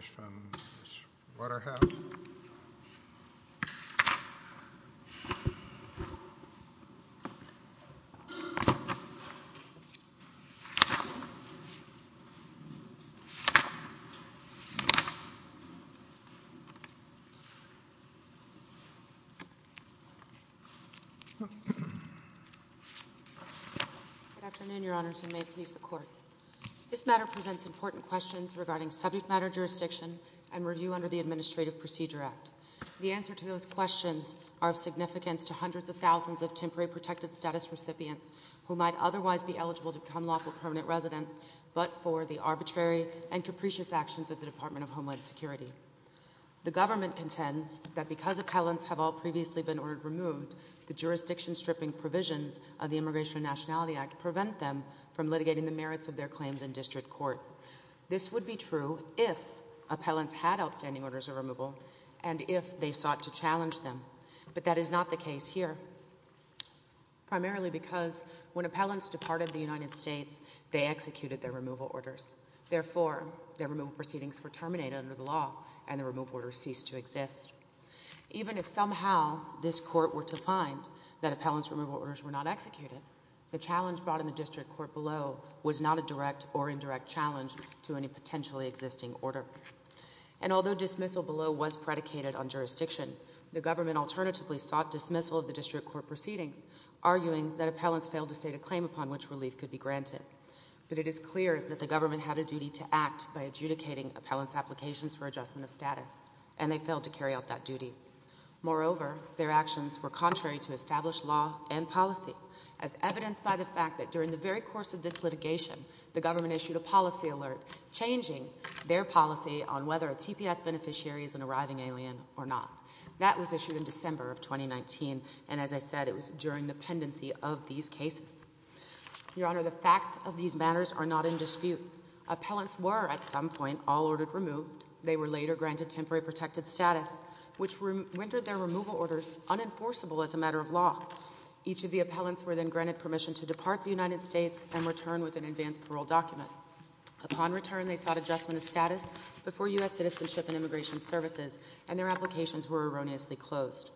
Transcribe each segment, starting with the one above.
Good afternoon, Your Honors, and may it please the Court. This matter presents important questions regarding subject matter jurisdiction and review under the Administrative Procedure Act. The answers to those questions are of significance to hundreds of thousands of temporary protected status recipients who might otherwise be eligible to become lawful permanent residents but for the arbitrary and capricious actions of the Department of Homeland Security. The government contends that because appellants have all previously been ordered removed, the jurisdiction-stripping provisions of the Immigration and Nationality Act prevent them from litigating the merits of their claims in district court. This would be true if appellants had outstanding orders of removal and if they sought to challenge them, but that is not the case here, primarily because when appellants departed the United States, they executed their removal orders. Therefore, their removal proceedings were terminated under the law and the removal orders ceased to exist. Even if somehow this Court were to find that appellants' removal orders were not executed, the challenge brought in the district court below was not a direct or indirect challenge to any potentially existing order. And although dismissal below was predicated on jurisdiction, the government alternatively sought dismissal of the district court proceedings, arguing that appellants failed to state a claim upon which relief could be granted. But it is clear that the government had a duty to act by adjudicating appellants' applications for adjustment of status, and they failed to carry out that duty. Moreover, their actions were contrary to established law and policy, as evidenced by the fact that during the very course of this litigation, the government issued a policy alert, changing their policy on whether a TPS beneficiary is an arriving alien or not. That was issued in December of 2019, and as I said, it was during the pendency of these cases. Your Honor, the facts of these matters are not in dispute. Appellants were, at some point, all ordered removed. They were later granted temporary protected status, which rendered their removal orders unenforceable as a matter of law. Each of the appellants were then granted permission to depart the United States and return with an advance parole document. Upon return, they sought adjustment of status before U.S. Citizenship and Immigration Services, and their applications were erroneously closed.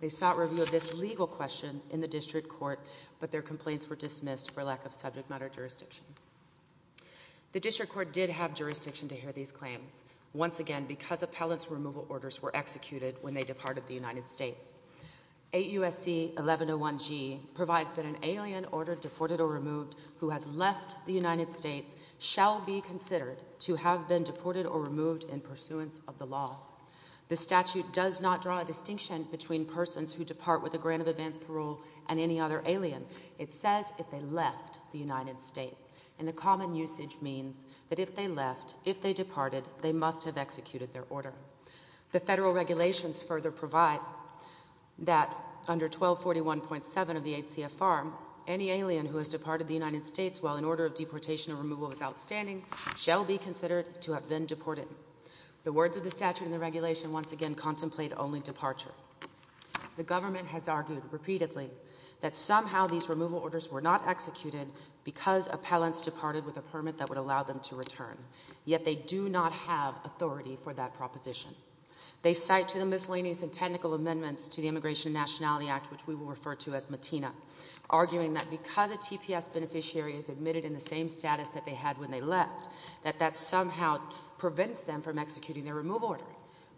They sought review of this legal question in the district court, but their complaints were dismissed for lack of subject matter jurisdiction. The district court did have jurisdiction to hear these claims, once again because appellants' removal orders were executed when they departed the United States. 8 U.S.C. 1101G provides that an alien ordered deported or removed who has left the United States shall be considered to have been deported or removed in pursuance of the law. The statute does not draw a distinction between persons who depart with a grant of advance parole and any other alien. It says if they left the United States, and the common usage means that if they left, if they departed, they must have executed their order. The federal regulations further provide that under 1241.7 of the 8 CFR, any alien who has departed the United States while an order of deportation or removal was outstanding shall be considered to have been deported. The words of the statute and the regulation once again contemplate only departure. The government has argued repeatedly that somehow these removal orders were not executed because appellants departed with a permit that would allow them to return, yet they do not have authority for that proposition. They cite to the miscellaneous and technical amendments to the Immigration and Nationality Act, which we will refer to as MATINA, arguing that because a TPS beneficiary is admitted in the same status that they had when they left, that that somehow prevents them from executing their removal order.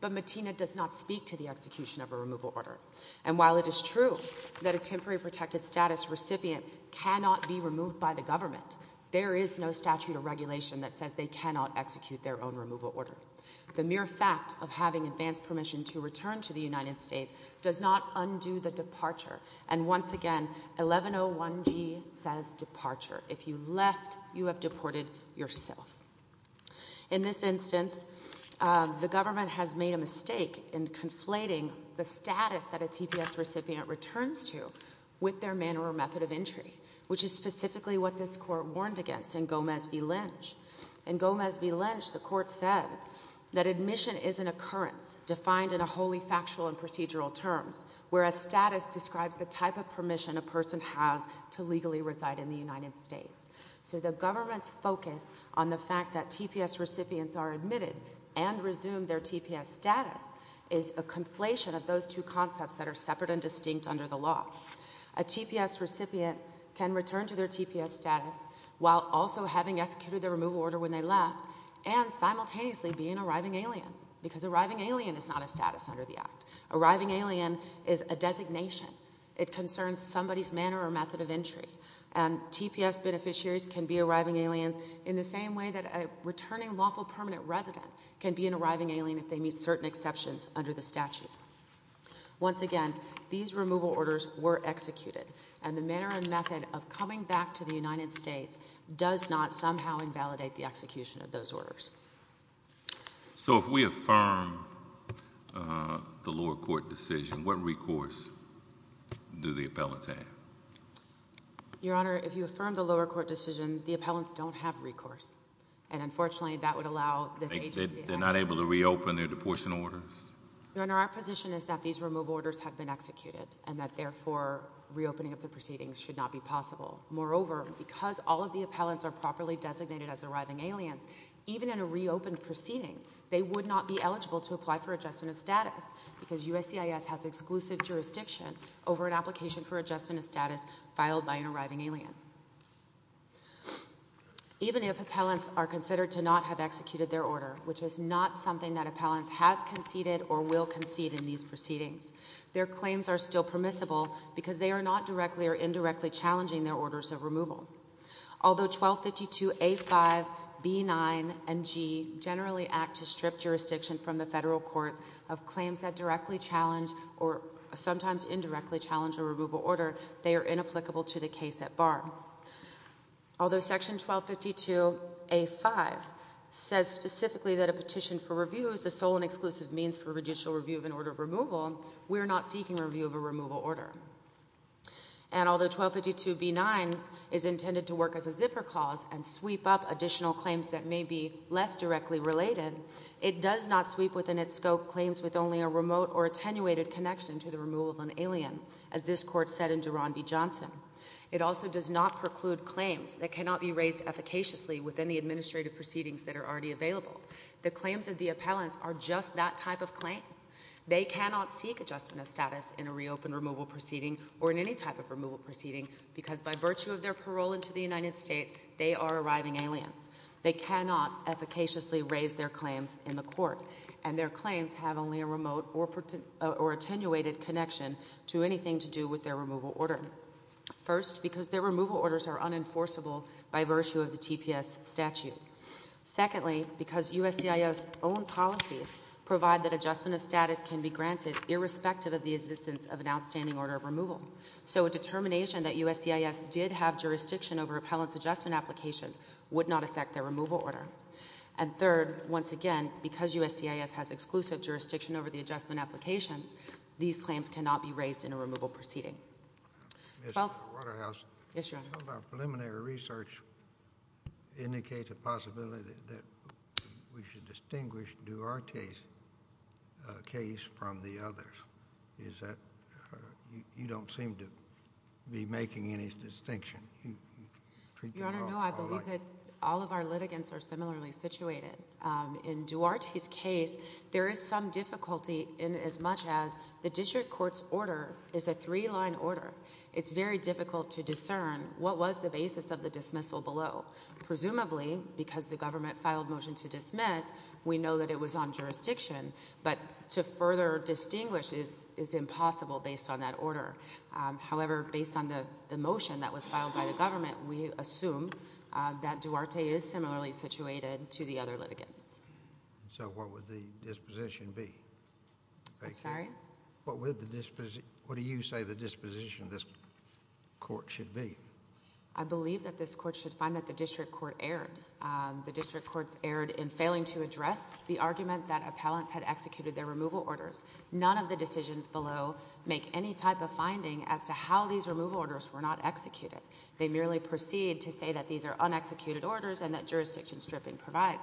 But MATINA does not speak to the execution of a removal order. And while it is true that a temporary protected status recipient cannot be removed by the government, there is no statute or regulation that states that a TPS recipient cannot execute their own removal order. The mere fact of having advance permission to return to the United States does not undo the departure. And once again, 1101G says departure. If you left, you have deported yourself. In this instance, the government has made a mistake in conflating the status that a TPS recipient returns to with their manner or method of entry, which is specifically what this Court warned against in Gomez v. Lynch. In Gomez v. Lynch, the Court said that admission is an occurrence defined in a wholly factual and procedural terms, whereas status describes the type of permission a person has to legally reside in the United States. So the government's focus on the fact that TPS recipients are admitted and resumed their TPS status is a conflation of those two concepts that are separate and distinct under the law. A TPS recipient can return to their TPS status while also having executed their removal order when they left and simultaneously be an arriving alien, because arriving alien is not a status under the Act. Arriving alien is a designation. It concerns somebody's manner or method of entry. And TPS beneficiaries can be arriving aliens in the same way that a returning lawful permanent resident can be an arriving alien if they meet certain exceptions under the statute. Once again, these removal orders were executed, and the manner and method of coming back to the United States does not somehow invalidate the execution of those orders. So if we affirm the lower court decision, what recourse do the appellants have? Your Honor, if you affirm the lower court decision, the appellants don't have recourse. They're not able to reopen their deportion orders? Your Honor, our position is that these removal orders have been executed, and that therefore reopening of the proceedings should not be possible. Moreover, because all of the appellants are properly designated as arriving aliens, even in a reopened proceeding, they would not be eligible to apply for adjustment of status, because USCIS has exclusive jurisdiction over an application for adjustment of status filed by an arriving alien. Even if appellants are considered to not have executed their order, which is not something that appellants have conceded or will concede in these proceedings, their claims are still permissible because they are not directly or indirectly challenging their orders of removal. Although 1252A5, B9, and G generally act to strip jurisdiction from the federal courts of claims that directly challenge or sometimes indirectly challenge a removal order, they are inapplicable to the case at bar. Although Section 1252A5 says specifically that a petition for review is the sole and exclusive means for judicial review of an order of removal, we are not seeking review of a removal order. And although 1252B9 is intended to work as a zipper clause and sweep up additional claims that may be less directly related, it does not sweep within its scope claims with only a remote or attenuated connection to the removal of an alien, as this Court said in Duran v. Johnson. It also does not preclude claims that cannot be raised efficaciously within the administrative proceedings that are already available. The claims of the appellants are just that type of claim. They cannot seek adjustment of status in a reopened removal proceeding or in any type of removal proceeding because by virtue of their parole into the United States, they are arriving aliens. They cannot efficaciously raise their claims in the Court. And their claims have only a remote or attenuated connection to anything to do with their removal order. First, because their removal orders are unenforceable by virtue of the TPS statute. Secondly, because USCIS's own policies provide that adjustment of status can be granted irrespective of the existence of an outstanding order of removal. So a determination that USCIS did have jurisdiction over appellant's adjustment applications would not affect their removal order. And third, once again, because USCIS has exclusive jurisdiction over the adjustment applications, these claims cannot be raised in a removal proceeding. Mr. Waterhouse. Yes, Your Honor. Some of our preliminary research indicates a possibility that we should distinguish Duarte's case from the others. Is that, you don't seem to be making any distinction. Your Honor, no, I believe that all of our litigants are similarly situated. In Duarte's case, there is some difficulty in as much as the district court's order is a three-line order. It's very difficult to discern what was the basis of the dismissal below. Presumably, because the government filed motion to dismiss, we know that it was on jurisdiction. But to further distinguish is impossible based on that order. However, based on the motion that was filed by the government, we assume that Duarte is similarly situated to the other litigants. So what would the disposition be? I'm sorry? What would the disposition, what do you say the disposition of this court should be? I believe that this court should find that the district court erred. The district court erred in failing to address the argument that appellants had executed their removal orders. None of the decisions below make any type of finding as to how these removal orders were not executed. They merely proceed to say that these are un-executed orders and that jurisdiction stripping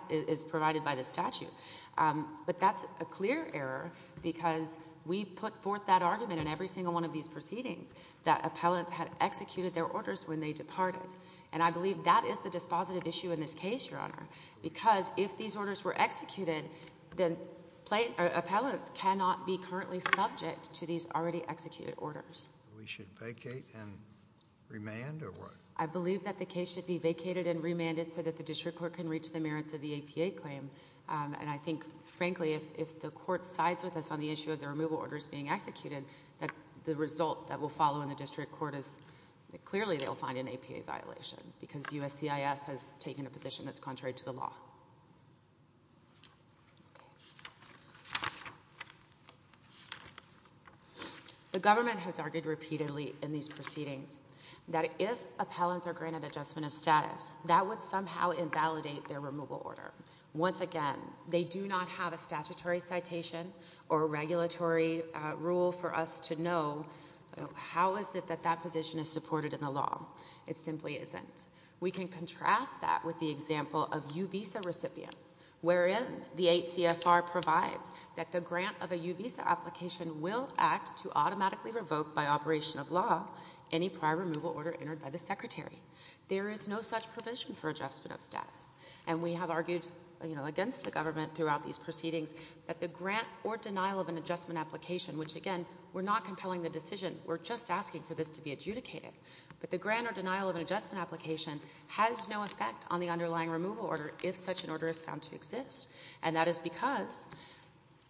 is provided by the statute. But that's a clear error because we put forth that argument in every single one of these proceedings that appellants had executed their orders when they departed. And I believe that is the dispositive issue in this case, Your Honor, because if these orders were executed, then appellants cannot be currently subject to these already executed orders. We should vacate and remand or what? I believe that the case should be vacated and remanded so that the district court can reach the merits of the APA claim. And I think, frankly, if the court sides with us on the issue of the removal orders being executed, that the result that will follow in the district court is that clearly they'll find an APA violation because USCIS has taken a position that's contrary to the law. Okay. The government has argued repeatedly in these proceedings that if appellants are granted adjustment of status, that would somehow invalidate their removal order. Once again, they do not have a statutory citation or regulatory rule for us to know how is it that that position is supported in the law. It simply isn't. We can contrast that with the example of U-Visa recipients wherein the 8 CFR provides that the grant of a U-Visa application will act to automatically revoke by operation of law any prior removal order entered by the Secretary. There is no such provision for adjustment of status. And we have argued against the government throughout these proceedings that the grant or denial of an adjustment application, which again, we're not compelling the decision. We're just asking for this to be adjudicated. But the grant or denial of an adjustment application has no effect on the underlying removal order if such an order is found to exist. And that is because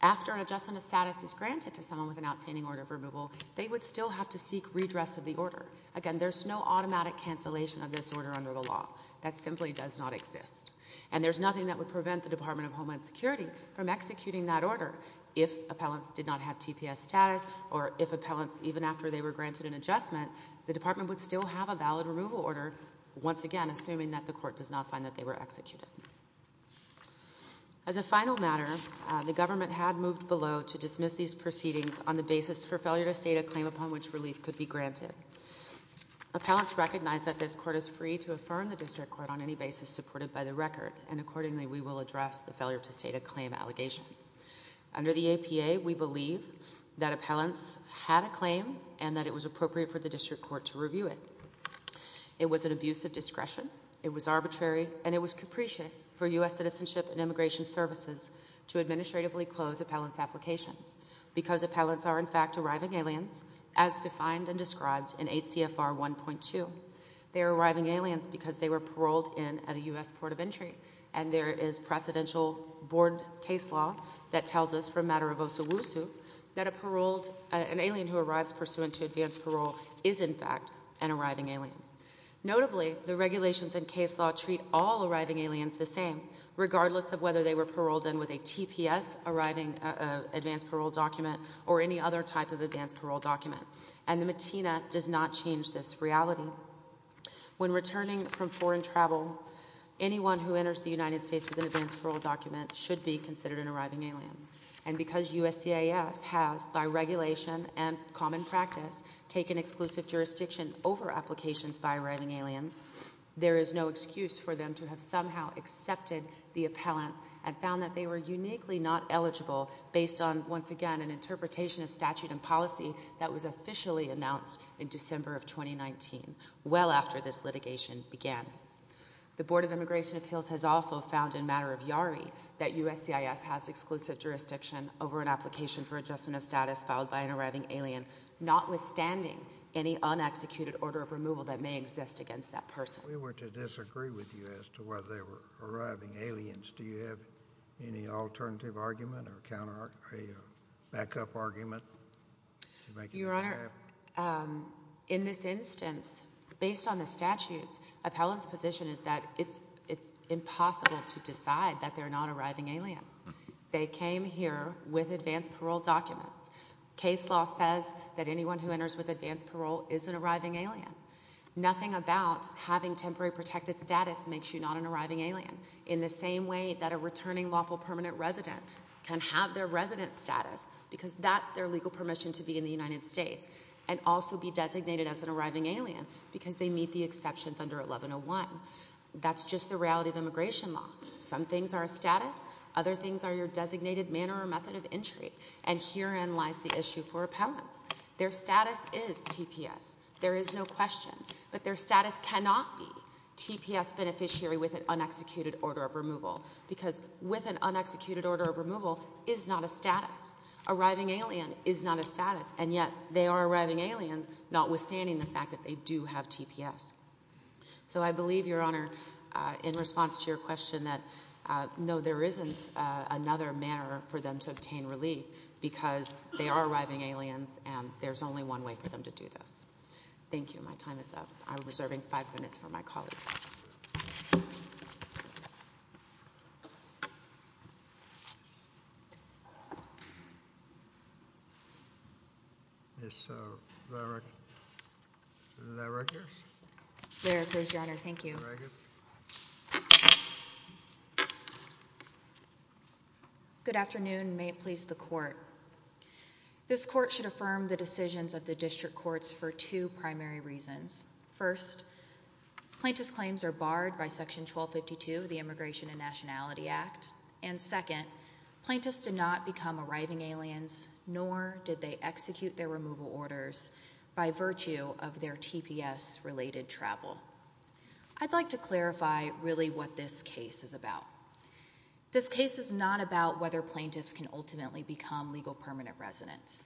after an adjustment of status is granted to someone with an outstanding order of removal, they would still have to seek redress of the order. Again, there's no automatic cancellation of this order under the law. That simply does not exist. And there's nothing that would prevent the Department of Homeland Security from executing that order. If appellants did not have TPS status or if appellants even after they were granted an adjustment, the department would still have a valid removal order, once again, assuming that the court does not find that they were executed. As a final matter, the government had moved below to dismiss these proceedings on the basis for failure to state a claim upon which relief could be granted. Appellants recognize that this court is free to affirm the district court on any basis supported by the record. And accordingly, we will address the failure to state a claim allegation. Under the APA, we believe that appellants had a claim and that it was appropriate for the district court to review it. It was an abuse of discretion. It was arbitrary. And it was capricious for U.S. Citizenship and Immigration Services to administratively close appellants' applications because appellants are in fact arriving aliens, as defined and described in 8 CFR 1.2. They are arriving aliens because they were paroled in at a U.S. Port of Entry. And there is precedential board case law that tells us from Matarivosa-Wusu that a paroled, an alien who arrives pursuant to advance parole is in fact an arriving alien. Notably, the regulations and case law treat all arriving aliens the same, regardless of whether they were paroled in with a TPS, arriving advance parole document, or any other type of advance parole document. And the MATINA does not change this reality. When returning from foreign travel, anyone who enters the United States with an advance parole document should be considered an arriving alien. And because USCIS has, by regulation and common practice, taken exclusive jurisdiction over applications by arriving aliens, there is no excuse for them to have somehow accepted the appellants and found that they were uniquely not eligible based on, once again, an interpretation of statute and policy that was officially announced in December of 2019, well after this litigation began. The Board of Immigration Appeals has also found in Matarivyari that USCIS has exclusive jurisdiction over an application for adjustment of status filed by an arriving alien, notwithstanding any un-executed order of removal that may exist against that person. We were to disagree with you as to whether they were arriving aliens. Do you have any alternative argument or back-up argument? Your Honor, in this instance, based on the statutes, appellants' position is that it's impossible to decide that they're not arriving aliens. They came here with advance parole documents. Case law says that anyone who enters with advance parole is an arriving alien. Nothing about having temporary protected status makes you not an arriving alien, in the same way that a returning lawful permanent resident can have their resident status because that's their legal permission to be in the United States and also be designated as an arriving alien because they meet the exceptions under 1101. That's just the reality of immigration law. Some things are a status. Other things are your designated manner or method of entry. And herein lies the issue for appellants. Their status is TPS. There is no question. But their status cannot be TPS beneficiary with an un-executed order of removal because with an un-executed order of removal is not a status. Arriving alien is not a status, and yet they are arriving aliens, notwithstanding the fact that they do have TPS. So I believe, Your Honor, in response to your question that no, there isn't another manner for them to obtain relief because they are arriving aliens and there's only one way for them to do this. Thank you. My time is up. I'm reserving five minutes for my colleague. Ms. Larrick. Larrick here. Larrick here, Your Honor. Thank you. Good afternoon. May it please the Court. This Court should affirm the decisions of the District Courts for two primary reasons. First, plaintiff's claims are barred by Section 1252 of the Immigration and Nationality Act. And second, plaintiffs did not become arriving aliens, nor did they execute their removal orders by virtue of their TPS-related travel. I'd like to clarify really what this case is about. This case is not about whether plaintiffs can ultimately become legal permanent residents.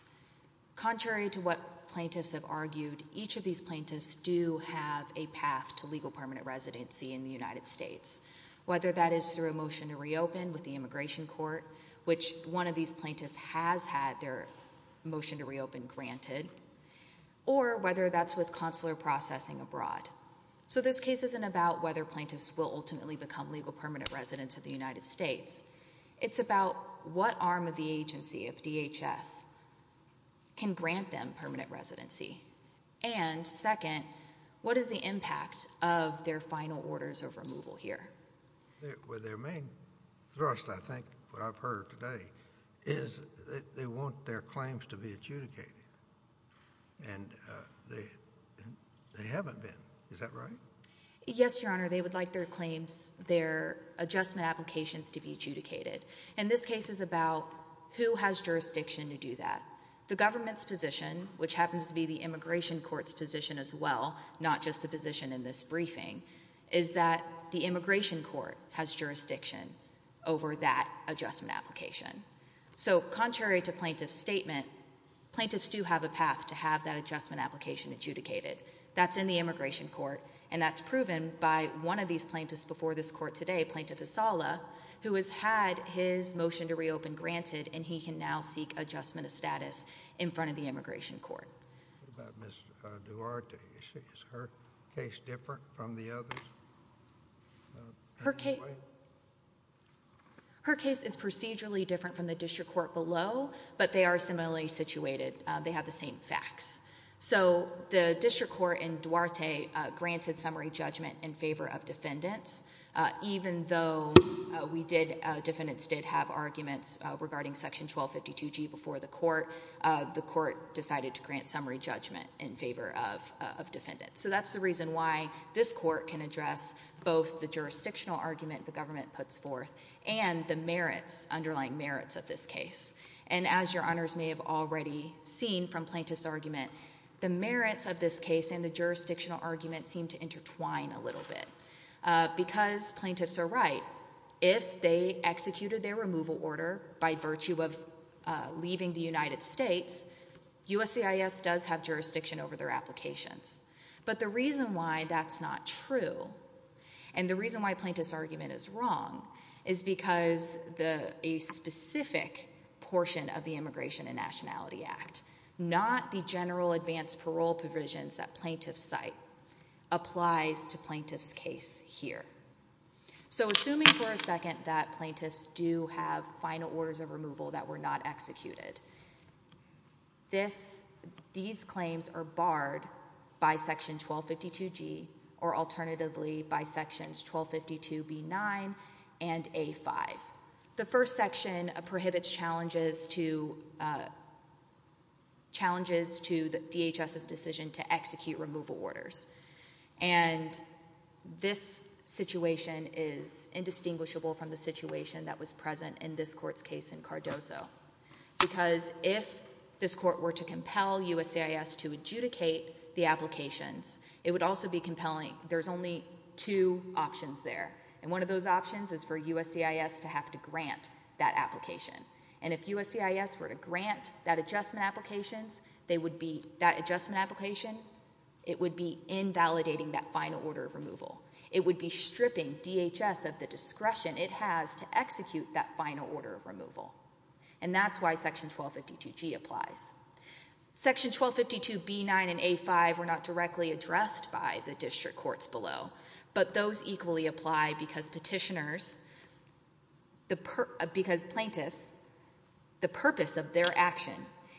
Contrary to what plaintiffs have argued, each of these plaintiffs do have a path to legal permanent residency in the United States, whether that is through a motion to reopen with the Immigration Court, which one of these plaintiffs has had their motion to reopen granted, or whether that's with consular processing abroad. So this case isn't about whether plaintiffs will ultimately become legal permanent residents of the United States. It's about what arm of the agency, of DHS, can grant them permanent residency. And second, what is the impact of their final orders of removal here? Their main thrust, I think, what I've heard today, is that they want their claims to be adjudicated. And they haven't been. Is that right? Yes, Your Honor. They would like their claims, their adjustment applications to be adjudicated. And this case is about who has jurisdiction to do that. The government's position, which happens to be the Immigration Court's position as well, not just the position in this briefing, is that the Immigration Court has jurisdiction over that adjustment application. So contrary to plaintiff's statement, plaintiffs do have a path to have that adjustment application adjudicated. That's in the Immigration Court, and that's proven by one of these plaintiffs before this court today, Plaintiff Asala, who has had his motion to reopen granted, and he can now seek adjustment of status in front of the Immigration Court. What about Ms. Duarte? Is her case different from the others? Her case is procedurally different from the District Court below, but they are similarly situated. They have the same facts. So the District Court in Duarte granted summary judgment in favor of defendants. Even though we did, defendants did have arguments regarding Section 1252G before the court, the court decided to grant summary judgment in favor of defendants. So that's the reason why this court can address both the jurisdictional argument the government puts forth and the merits, underlying merits of this case. And as Your Honors may have already seen from plaintiff's argument, the merits of this case and the jurisdictional argument seem to intertwine a little bit, because plaintiffs are right. If they executed their removal order by virtue of leaving the United States, USCIS does have jurisdiction over their applications. But the reason why that's not true, and the reason why plaintiff's argument is wrong, is because a specific portion of the Immigration and Nationality Act, not the general advance parole provisions that plaintiffs cite, applies to plaintiff's case here. So assuming for a second that plaintiffs do have final orders of removal that were not executed, these claims are barred by Section 1252G, or alternatively by Sections 1252B9 and A5. The first section prohibits challenges to DHS's decision to execute removal orders. And this situation is indistinguishable from the situation that was present in this court's case in Cardozo. Because if this court were to compel USCIS to adjudicate the applications, it would also be compelling. There's only two options there. And one of those options is for USCIS to have to grant that application. And if USCIS were to grant that adjustment application, it would be invalidating that final order of removal. It would be stripping DHS of the discretion it has to execute that final order of removal. And that's why Section 1252G applies. Section 1252B9 and A5 were not directly addressed by the district courts below. But those equally apply because petitioners, because plaintiffs, the purpose of their action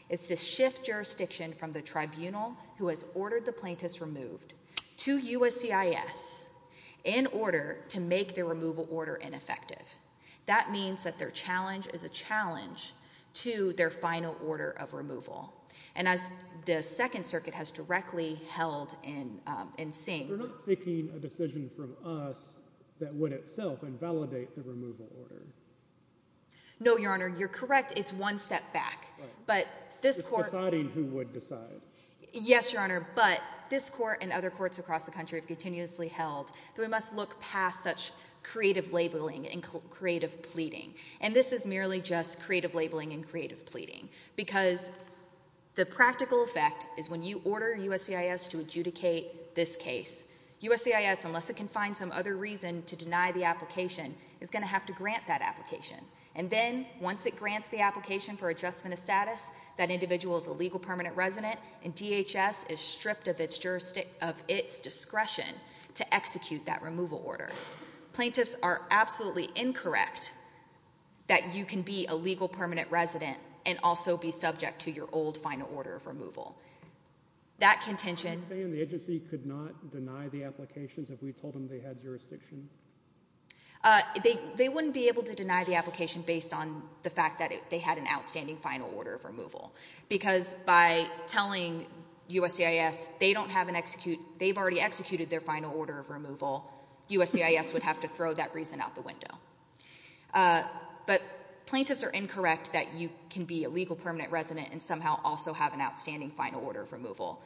is to shift jurisdiction from the tribunal who has ordered the plaintiffs removed to USCIS in order to make the removal order ineffective. That means that their challenge is a challenge to their final order of removal. And as the Second Circuit has directly held and seen... They're not seeking a decision from us that would itself invalidate the removal order. No, Your Honor. You're correct. It's one step back. But this court... It's deciding who would decide. Yes, Your Honor. But this court and other courts across the country have continuously held that we must look past such creative labeling and creative pleading. And this is labeling and creative pleading because the practical effect is when you order USCIS to adjudicate this case, USCIS, unless it can find some other reason to deny the application, is going to have to grant that application. And then, once it grants the application for adjustment of status, that individual is a legal permanent resident and DHS is stripped of its discretion to execute that removal order. Plaintiffs are absolutely incorrect that you can be a legal permanent resident and also be subject to your old final order of removal. That contention... Are you saying the agency could not deny the applications if we told them they had jurisdiction? They wouldn't be able to deny the application based on the fact that they had an outstanding final order of removal. Because by telling USCIS they don't have an execute... They've already executed their final order of removal. USCIS would have to throw that reason out the window. But plaintiffs are incorrect that you can be a legal permanent resident and somehow also have an outstanding final order of removal.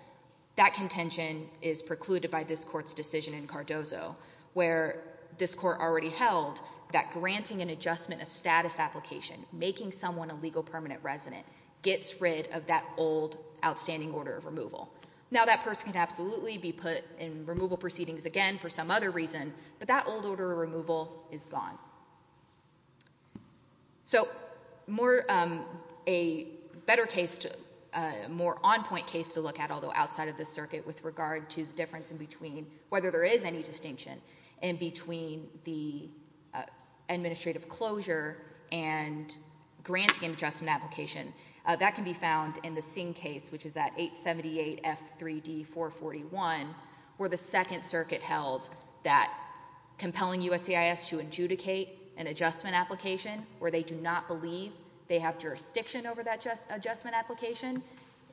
That contention is precluded by this court's decision in Cardozo where this court already held that granting an adjustment of status application, making someone a legal permanent resident, gets rid of that old outstanding order of removal. Now that person can absolutely be put in removal proceedings again for some other reason, but that old order of removal is gone. So a better case, a more on-point case to look at, although outside of this circuit with regard to the difference in between, whether there is any distinction in between the administrative closure and granting an adjustment application, that can be found in the Singh case, which is at 878F3D441, where the second circuit held that compelling USCIS to adjudicate an adjustment application where they do not believe they have jurisdiction over that adjustment application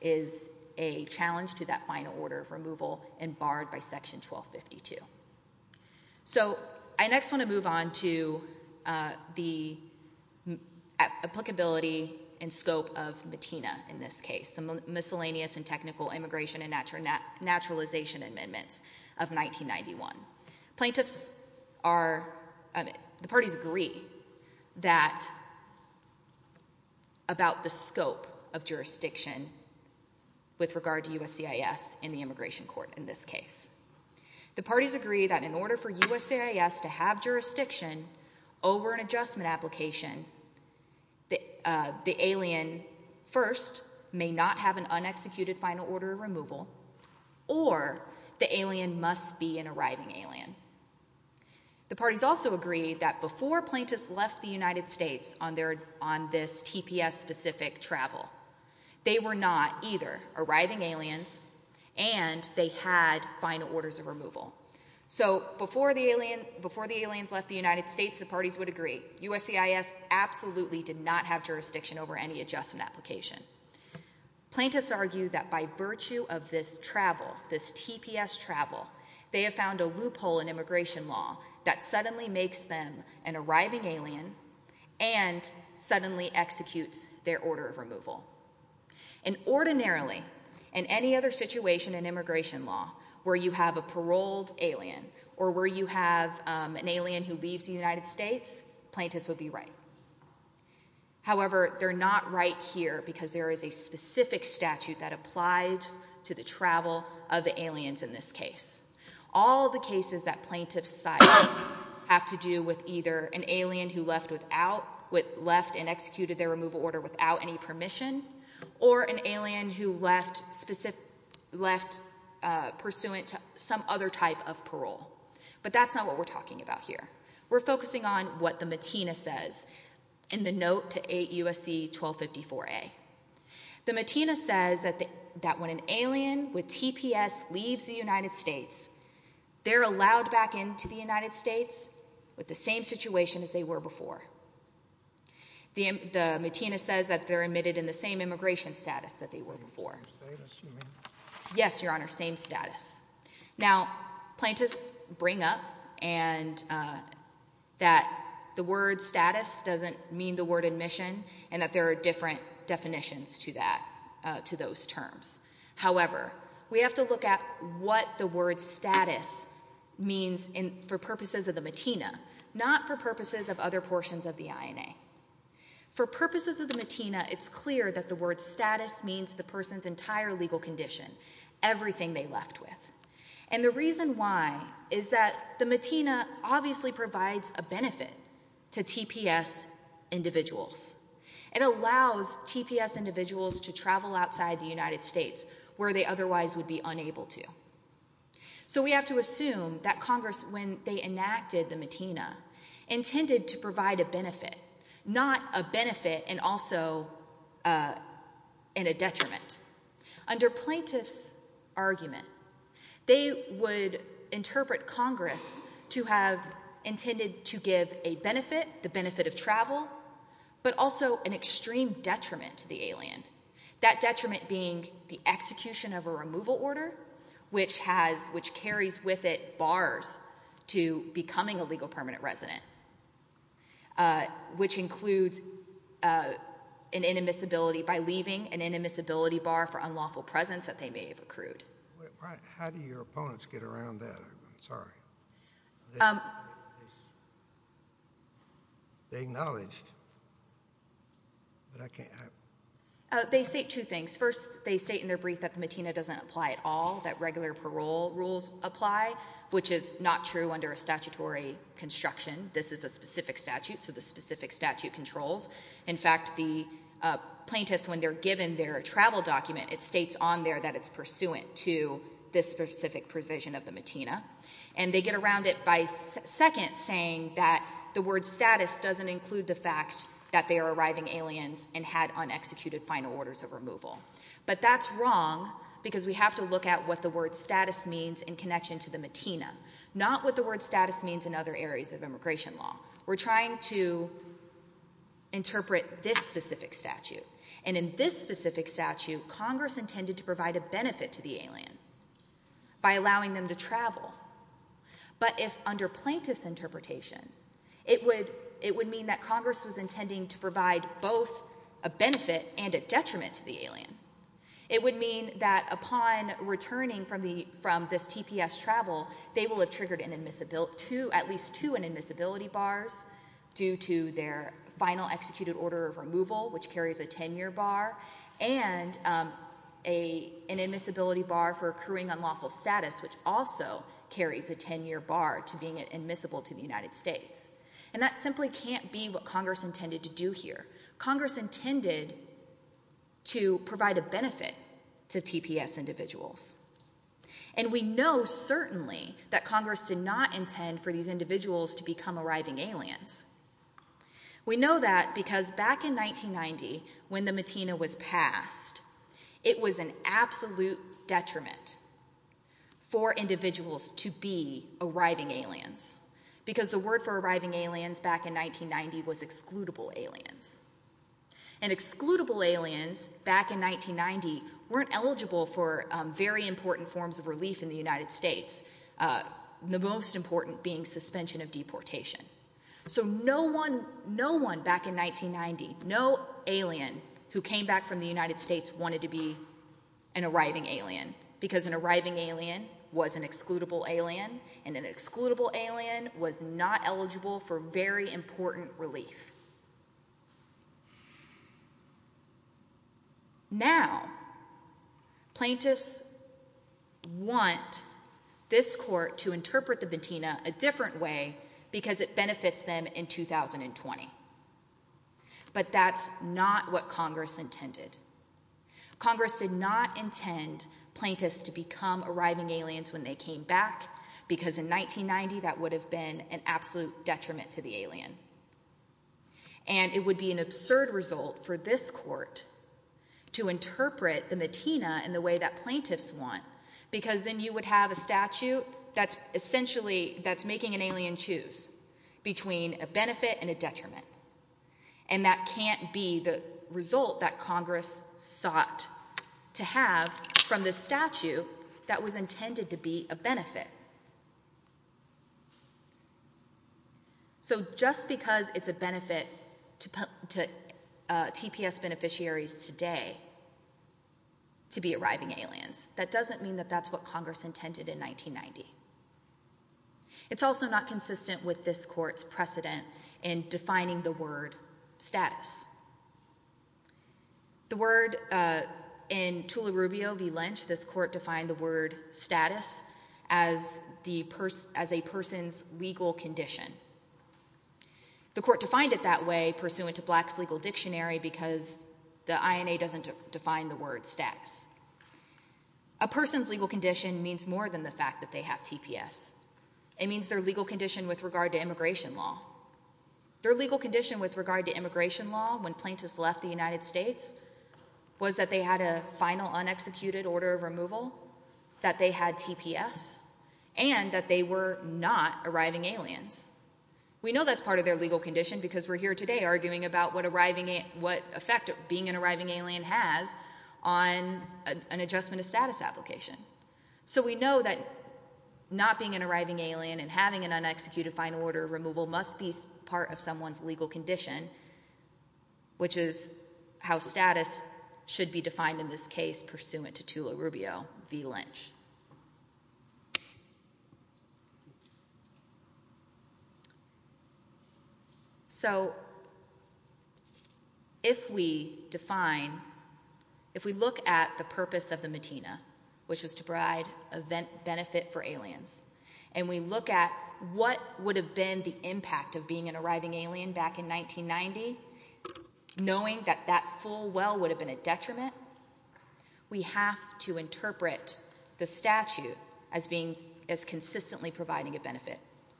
is a challenge to that final order of removal and barred by Section 1252. So I next want to move on to the applicability and scope of MATINA in this case. And I'm going to talk about the miscellaneous and technical immigration and naturalization amendments of 1991. The parties agree about the scope of jurisdiction with regard to USCIS in the immigration court in this case. The parties agree that in order for USCIS to have jurisdiction over an adjustment application, the alien first may not have an unexecuted final order of removal, or the alien must be an arriving alien. The parties also agree that before plaintiffs left the United States on this TPS-specific travel, they were not either arriving aliens and they had final orders of removal. So before the aliens left the United States, the parties would agree, USCIS absolutely did not have jurisdiction over any adjustment application. Plaintiffs argue that by virtue of this travel, this TPS travel, they have found a loophole in immigration law that suddenly makes them an arriving alien and suddenly executes their order of removal. And ordinarily, in any other situation in immigration law where you have a paroled alien or where you have an alien who leaves the United States, plaintiffs would be right. However, they're not right here because there is a specific statute that applies to the travel of the aliens in this case. All the cases that plaintiffs cite have to do with either an alien who left and executed their removal order without any permission, or an alien who left pursuant to some other type of parole. But that's not what we're talking about here. We're focusing on what the MATINA says in the note to 8 U.S.C. 1254a. The MATINA says that when an alien with TPS leaves the United States, they're allowed back into the United States with the same situation as they were before. The MATINA says that they're admitted in the same immigration status that they were before. Yes, Your Honor, same status. Now, plaintiffs bring up that the word status doesn't mean the word admission and that there are different definitions to those terms. However, we have to look at what the word status means for purposes of the MATINA, not for purposes of other portions of the INA. For purposes of the MATINA, it's clear that the word status means the person's entire legal condition, everything they left with. And the reason why is that the MATINA obviously provides a benefit to TPS individuals. It allows TPS individuals to travel outside the United States where they otherwise would be unable to. So we have to assume that Congress, when they enacted the MATINA, intended to provide a benefit, not a benefit and also in a detriment. Under plaintiffs' argument, they would interpret Congress to have intended to give a benefit, the benefit of travel, but also an extreme detriment to the alien. That detriment being the execution of a removal order, which carries with it bars to becoming a legal permanent resident, which includes an inadmissibility by leaving, an inadmissibility bar for unlawful presence that they may have accrued. How do your opponents get around that? I'm sorry. They acknowledge, but I can't... They say two things. First, they state in their brief that the MATINA doesn't apply at all, that regular parole rules apply, which is not true under a statutory construction. This is a specific statute, so the specific statute controls. In fact, the plaintiffs, when they're given their travel document, it states on there that it's pursuant to this specific provision of the MATINA. And they get around it by second saying that the word status is used in connection to the MATINA, not what the word status means in other areas of immigration law. We're trying to interpret this specific statute. And in this specific statute, Congress intended to provide a benefit to the alien by allowing them to travel. But if under plaintiffs' interpretation, it would mean that Congress was intending to provide both a benefit and a detriment to the alien. It would mean that upon returning from this TPS travel, they will have triggered at least two inadmissibility bars due to their final executed order of removal, which carries a 10-year bar, and an inadmissibility bar for accruing unlawful status, which also carries a 10-year bar to being admissible to the United States. And that simply can't be what Congress intended to do here. Congress intended to provide a benefit to TPS individuals. And we know certainly that Congress did not intend for these individuals to become arriving aliens. We know that because back in 1990, when the MATINA was passed, it was an absolute detriment for individuals to be arriving aliens, because the word for arriving aliens back in 1990 was excludable aliens. And excludable aliens back in 1990 weren't eligible for very important forms of relief in the United States, the most important being suspension of deportation. So no one back in 1990, no alien who came back from the United States wanted to be an arriving alien was an excludable alien, and an excludable alien was not eligible for very important relief. Now, plaintiffs want this court to interpret the MATINA a different way because it benefits them in 2020. But that's not what Congress intended. Congress did not intend plaintiffs to become arriving aliens when they came back, because in 1990 that would have been an absolute detriment to the alien. And it would be an absurd result for this court to interpret the MATINA in the way that plaintiffs want, because then you would have a statute that's essentially, that's making an alien choose between a benefit and a detriment. And that can't be the result that Congress sought to have from the statute that was intended to be a benefit. So just because it's a benefit to TPS beneficiaries today to be arriving aliens, that doesn't mean that that's what Congress intended in defining the word status. The word in Tula Rubio v. Lynch, this court defined the word status as a person's legal condition. The court defined it that way pursuant to Black's Legal Dictionary because the INA doesn't define the word status. A person's legal condition means more than the fact that they have TPS. It means their legal condition with regard to immigration law. Their legal condition with regard to immigration law when plaintiffs left the United States was that they had a final unexecuted order of removal, that they had TPS, and that they were not arriving aliens. We know that's part of their legal condition because we're here today arguing about what effect being an arriving alien has on an adjustment of status application. So we know that not being an arriving alien and having an unexecuted final order of removal must be part of someone's legal condition, which is how status should be defined in this case pursuant to Tula Rubio v. Lynch. So if we define, if we look at the impact of being an arriving alien back in 1990, knowing that that full well would have been a detriment, we have to interpret the statute as consistently providing a benefit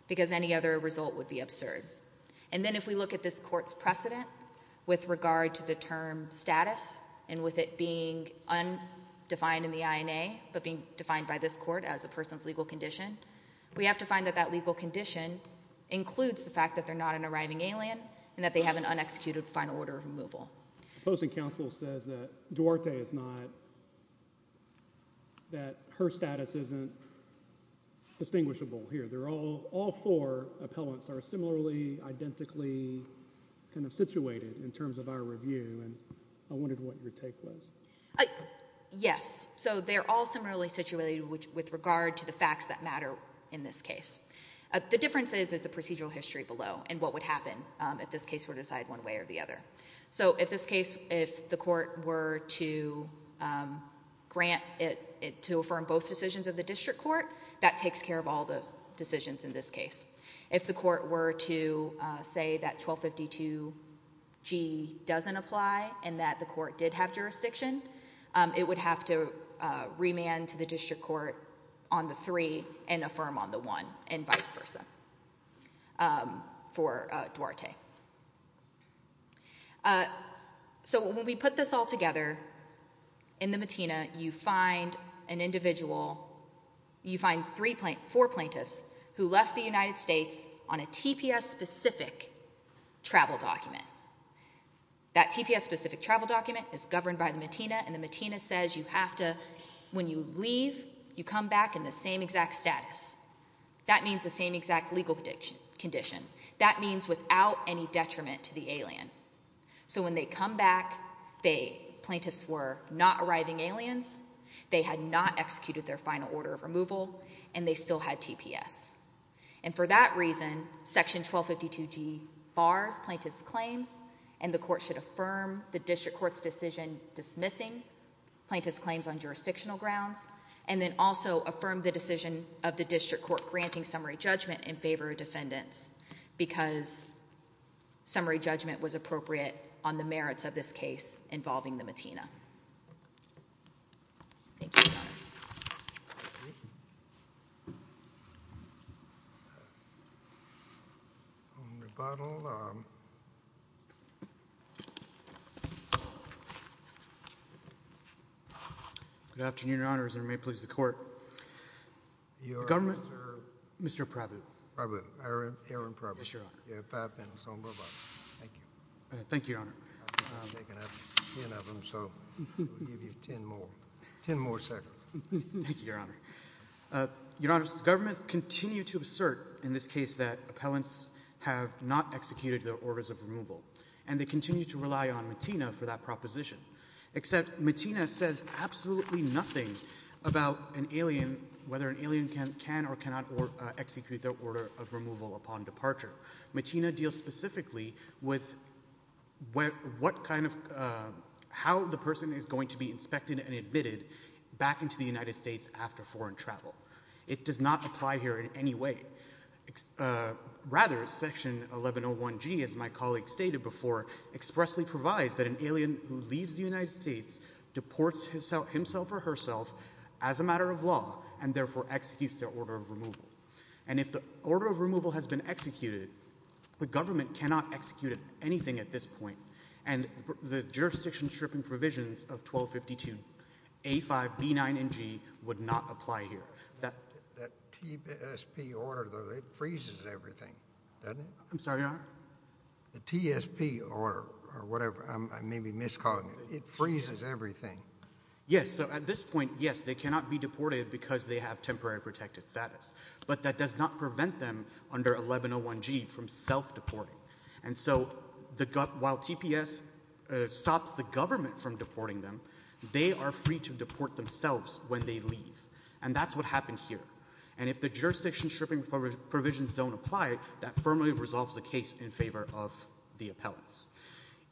because any other result would be absurd. And then if we look at this court's precedent with regard to the term status and with it being undefined in the INA but being defined by this court as a person's legal condition, we have to find that that legal condition includes the fact that they're not an arriving alien and that they have an unexecuted final order of removal. The opposing counsel says that Duarte is not, that her status isn't distinguishable here. They're all, all four appellants are similarly identically kind of situated in terms of our review and I wondered what your take was. Yes. So they're all similarly situated with regard to the facts that matter in this case. The difference is, is the procedural history below and what would happen if this case were decided one way or the other. So if this case, if the court were to grant it, to affirm both decisions of the district court, that takes care of all the decisions in this case. If the court were to say that 1252G doesn't apply and that the court did have jurisdiction, it would have to remand to the district court on the 3 and affirm on the 1 and vice versa for Duarte. So when we put this all together in the MATINA, you find an individual, you find three, four plaintiffs who left the United States on a TPS specific travel document. That TPS specific travel document is governed by the MATINA and the MATINA says you have to, when you leave, you come back in the same exact status. That means the same exact legal condition. That means without any detriment to the alien. So when they come back, they, plaintiffs were not arriving aliens, they had not executed their final order of removal and they still had TPS. And for that reason, section 1252G bars plaintiff's claims and the court should affirm the district court's decision dismissing plaintiff's claims on jurisdictional grounds and then also affirm the decision of the district court granting summary judgment in favor of defendants because summary judgment was appropriate on the merits of this case involving the MATINA. Thank you. Good afternoon, Your Honors, and may it please the Court, the government, Mr. Prabhu, Aaron Prabhu, you have five minutes. Thank you. Thank you, Your Honor. I'm taking up ten of them. Thank you, Your Honor. Your Honors, the government continue to assert in this case that appellants have not executed their orders of removal and they continue to rely on MATINA for that proposition, except MATINA says absolutely nothing about an alien, whether an alien can or cannot execute their order of removal upon departure. MATINA deals specifically with how the person is going to be inspected and admitted back into the United States after foreign travel. It does not apply here in any way. Rather, section 1101G, as my colleague stated before, expressly provides that an alien who leaves the United States deports himself or herself as a matter of law and therefore executes their order of removal. And if the order of removal has been executed, the government cannot execute anything at this point. And the jurisdiction stripping provisions of 1252, A5, B9, and G would not apply here. That TSP order, though, it freezes everything, doesn't it? I'm sorry, Your Honor? The TSP order, or whatever, I may be miscalling it, it freezes everything. Yes, so at this point, yes, they cannot be deported because they have temporary protected status, but that does not prevent them under 1101G from self-deporting. And so while TPS stops the government from deporting them, they are free to deport themselves when they leave. And that's what happened here. And if the jurisdiction stripping provisions don't apply, that firmly resolves the case in favor of the appellants.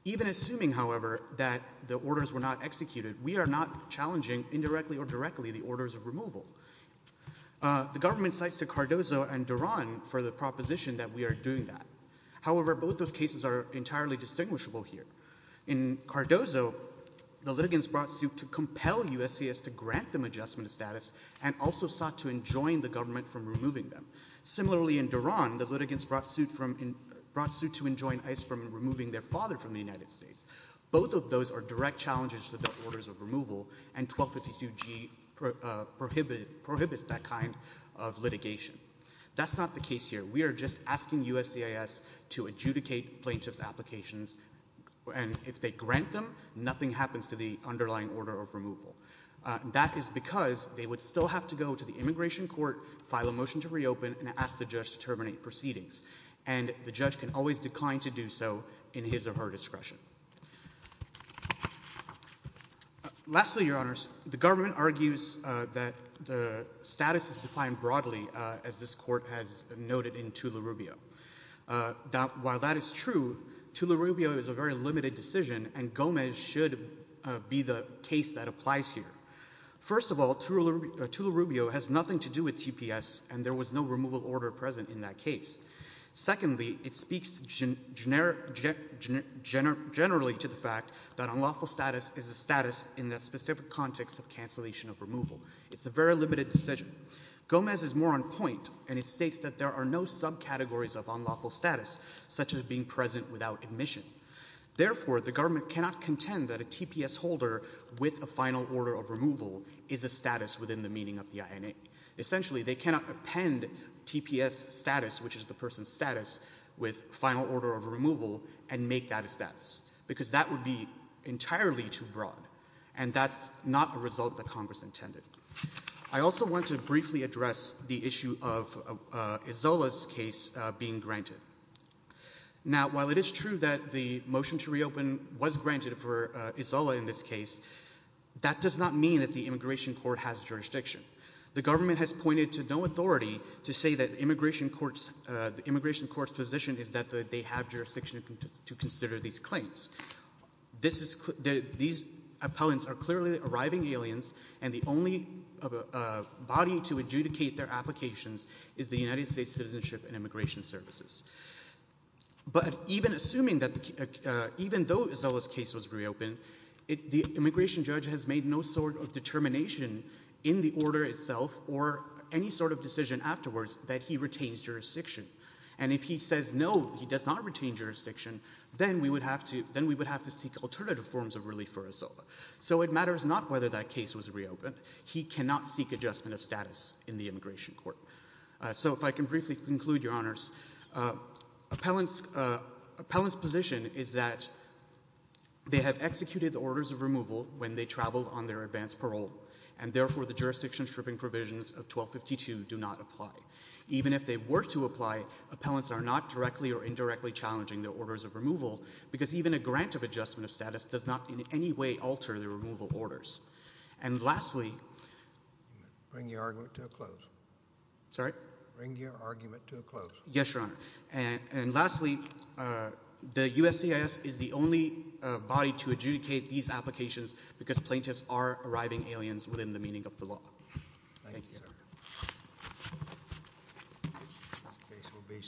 Even assuming, however, that the orders were not executed, we are not challenging indirectly or directly the orders of removal. The government cites the Cardozo and Duran for the proposition that we are doing that. However, both those cases are entirely distinguishable here. In Cardozo, the litigants brought suit to compel USCIS to grant them adjustment of status and also sought to enjoin the government from removing them. Similarly, in Duran, the litigants brought suit to enjoin ICE from removing their father from the United States. Both of those are direct challenges to the orders of removal, and 1252G prohibits that kind of litigation. That's not the case here. We are just asking USCIS to adjudicate plaintiff's applications, and if they grant them, nothing happens to the underlying order of removal. That is because they would still have to go to the immigration court, file a motion to reopen, and ask the judge to terminate proceedings. And the judge can always decline to do so in his or her favor. Lastly, Your Honors, the government argues that the status is defined broadly, as this court has noted in Tula-Rubio. While that is true, Tula-Rubio is a very limited decision, and Gomez should be the case that applies here. First of all, Tula-Rubio has nothing to do with TPS, and there was no removal order present in that case. Secondly, it speaks generally to the fact that unlawful status is a status in that specific context of cancellation of removal. It's a very limited decision. Gomez is more on point, and it states that there are no subcategories of unlawful status, such as being present without admission. Therefore, the government cannot contend that a TPS holder with a final order of removal is a status within the meaning of the INA. Essentially, they cannot append TPS status, which is the person's status, with final order of removal and make that a status, because that would be entirely too broad, and that's not a result that Congress intended. I also want to briefly address the issue of Izola's case being granted. Now, while it is true that the motion to reopen was granted for Izola in this case, that does not mean that the immigration court has jurisdiction. The government has pointed to no authority to say that the immigration court's position is that they have jurisdiction to consider these claims. These appellants are clearly arriving aliens, and the only body to adjudicate their applications is the United States Citizenship and Immigration Services. But even assuming that even though Izola's case was reopened, the immigration judge has made no sort of claim afterwards that he retains jurisdiction. And if he says no, he does not retain jurisdiction, then we would have to seek alternative forms of relief for Izola. So it matters not whether that case was reopened. He cannot seek adjustment of status in the immigration court. So if I can briefly conclude, Your Honors, appellants' position is that they have executed the orders of removal when they traveled on their advance parole, and therefore the jurisdiction stripping provisions of 1252 do not apply. Even if they were to apply, appellants are not directly or indirectly challenging the orders of removal, because even a grant of adjustment of status does not in any way alter the removal orders. And lastly... Bring your argument to a close. Sorry? Bring your argument to a close. Yes, Your Honor. And lastly, the USCIS is the only body to adjudicate these applications because plaintiffs are arriving aliens within the meaning of the law. Thank you, Your Honor.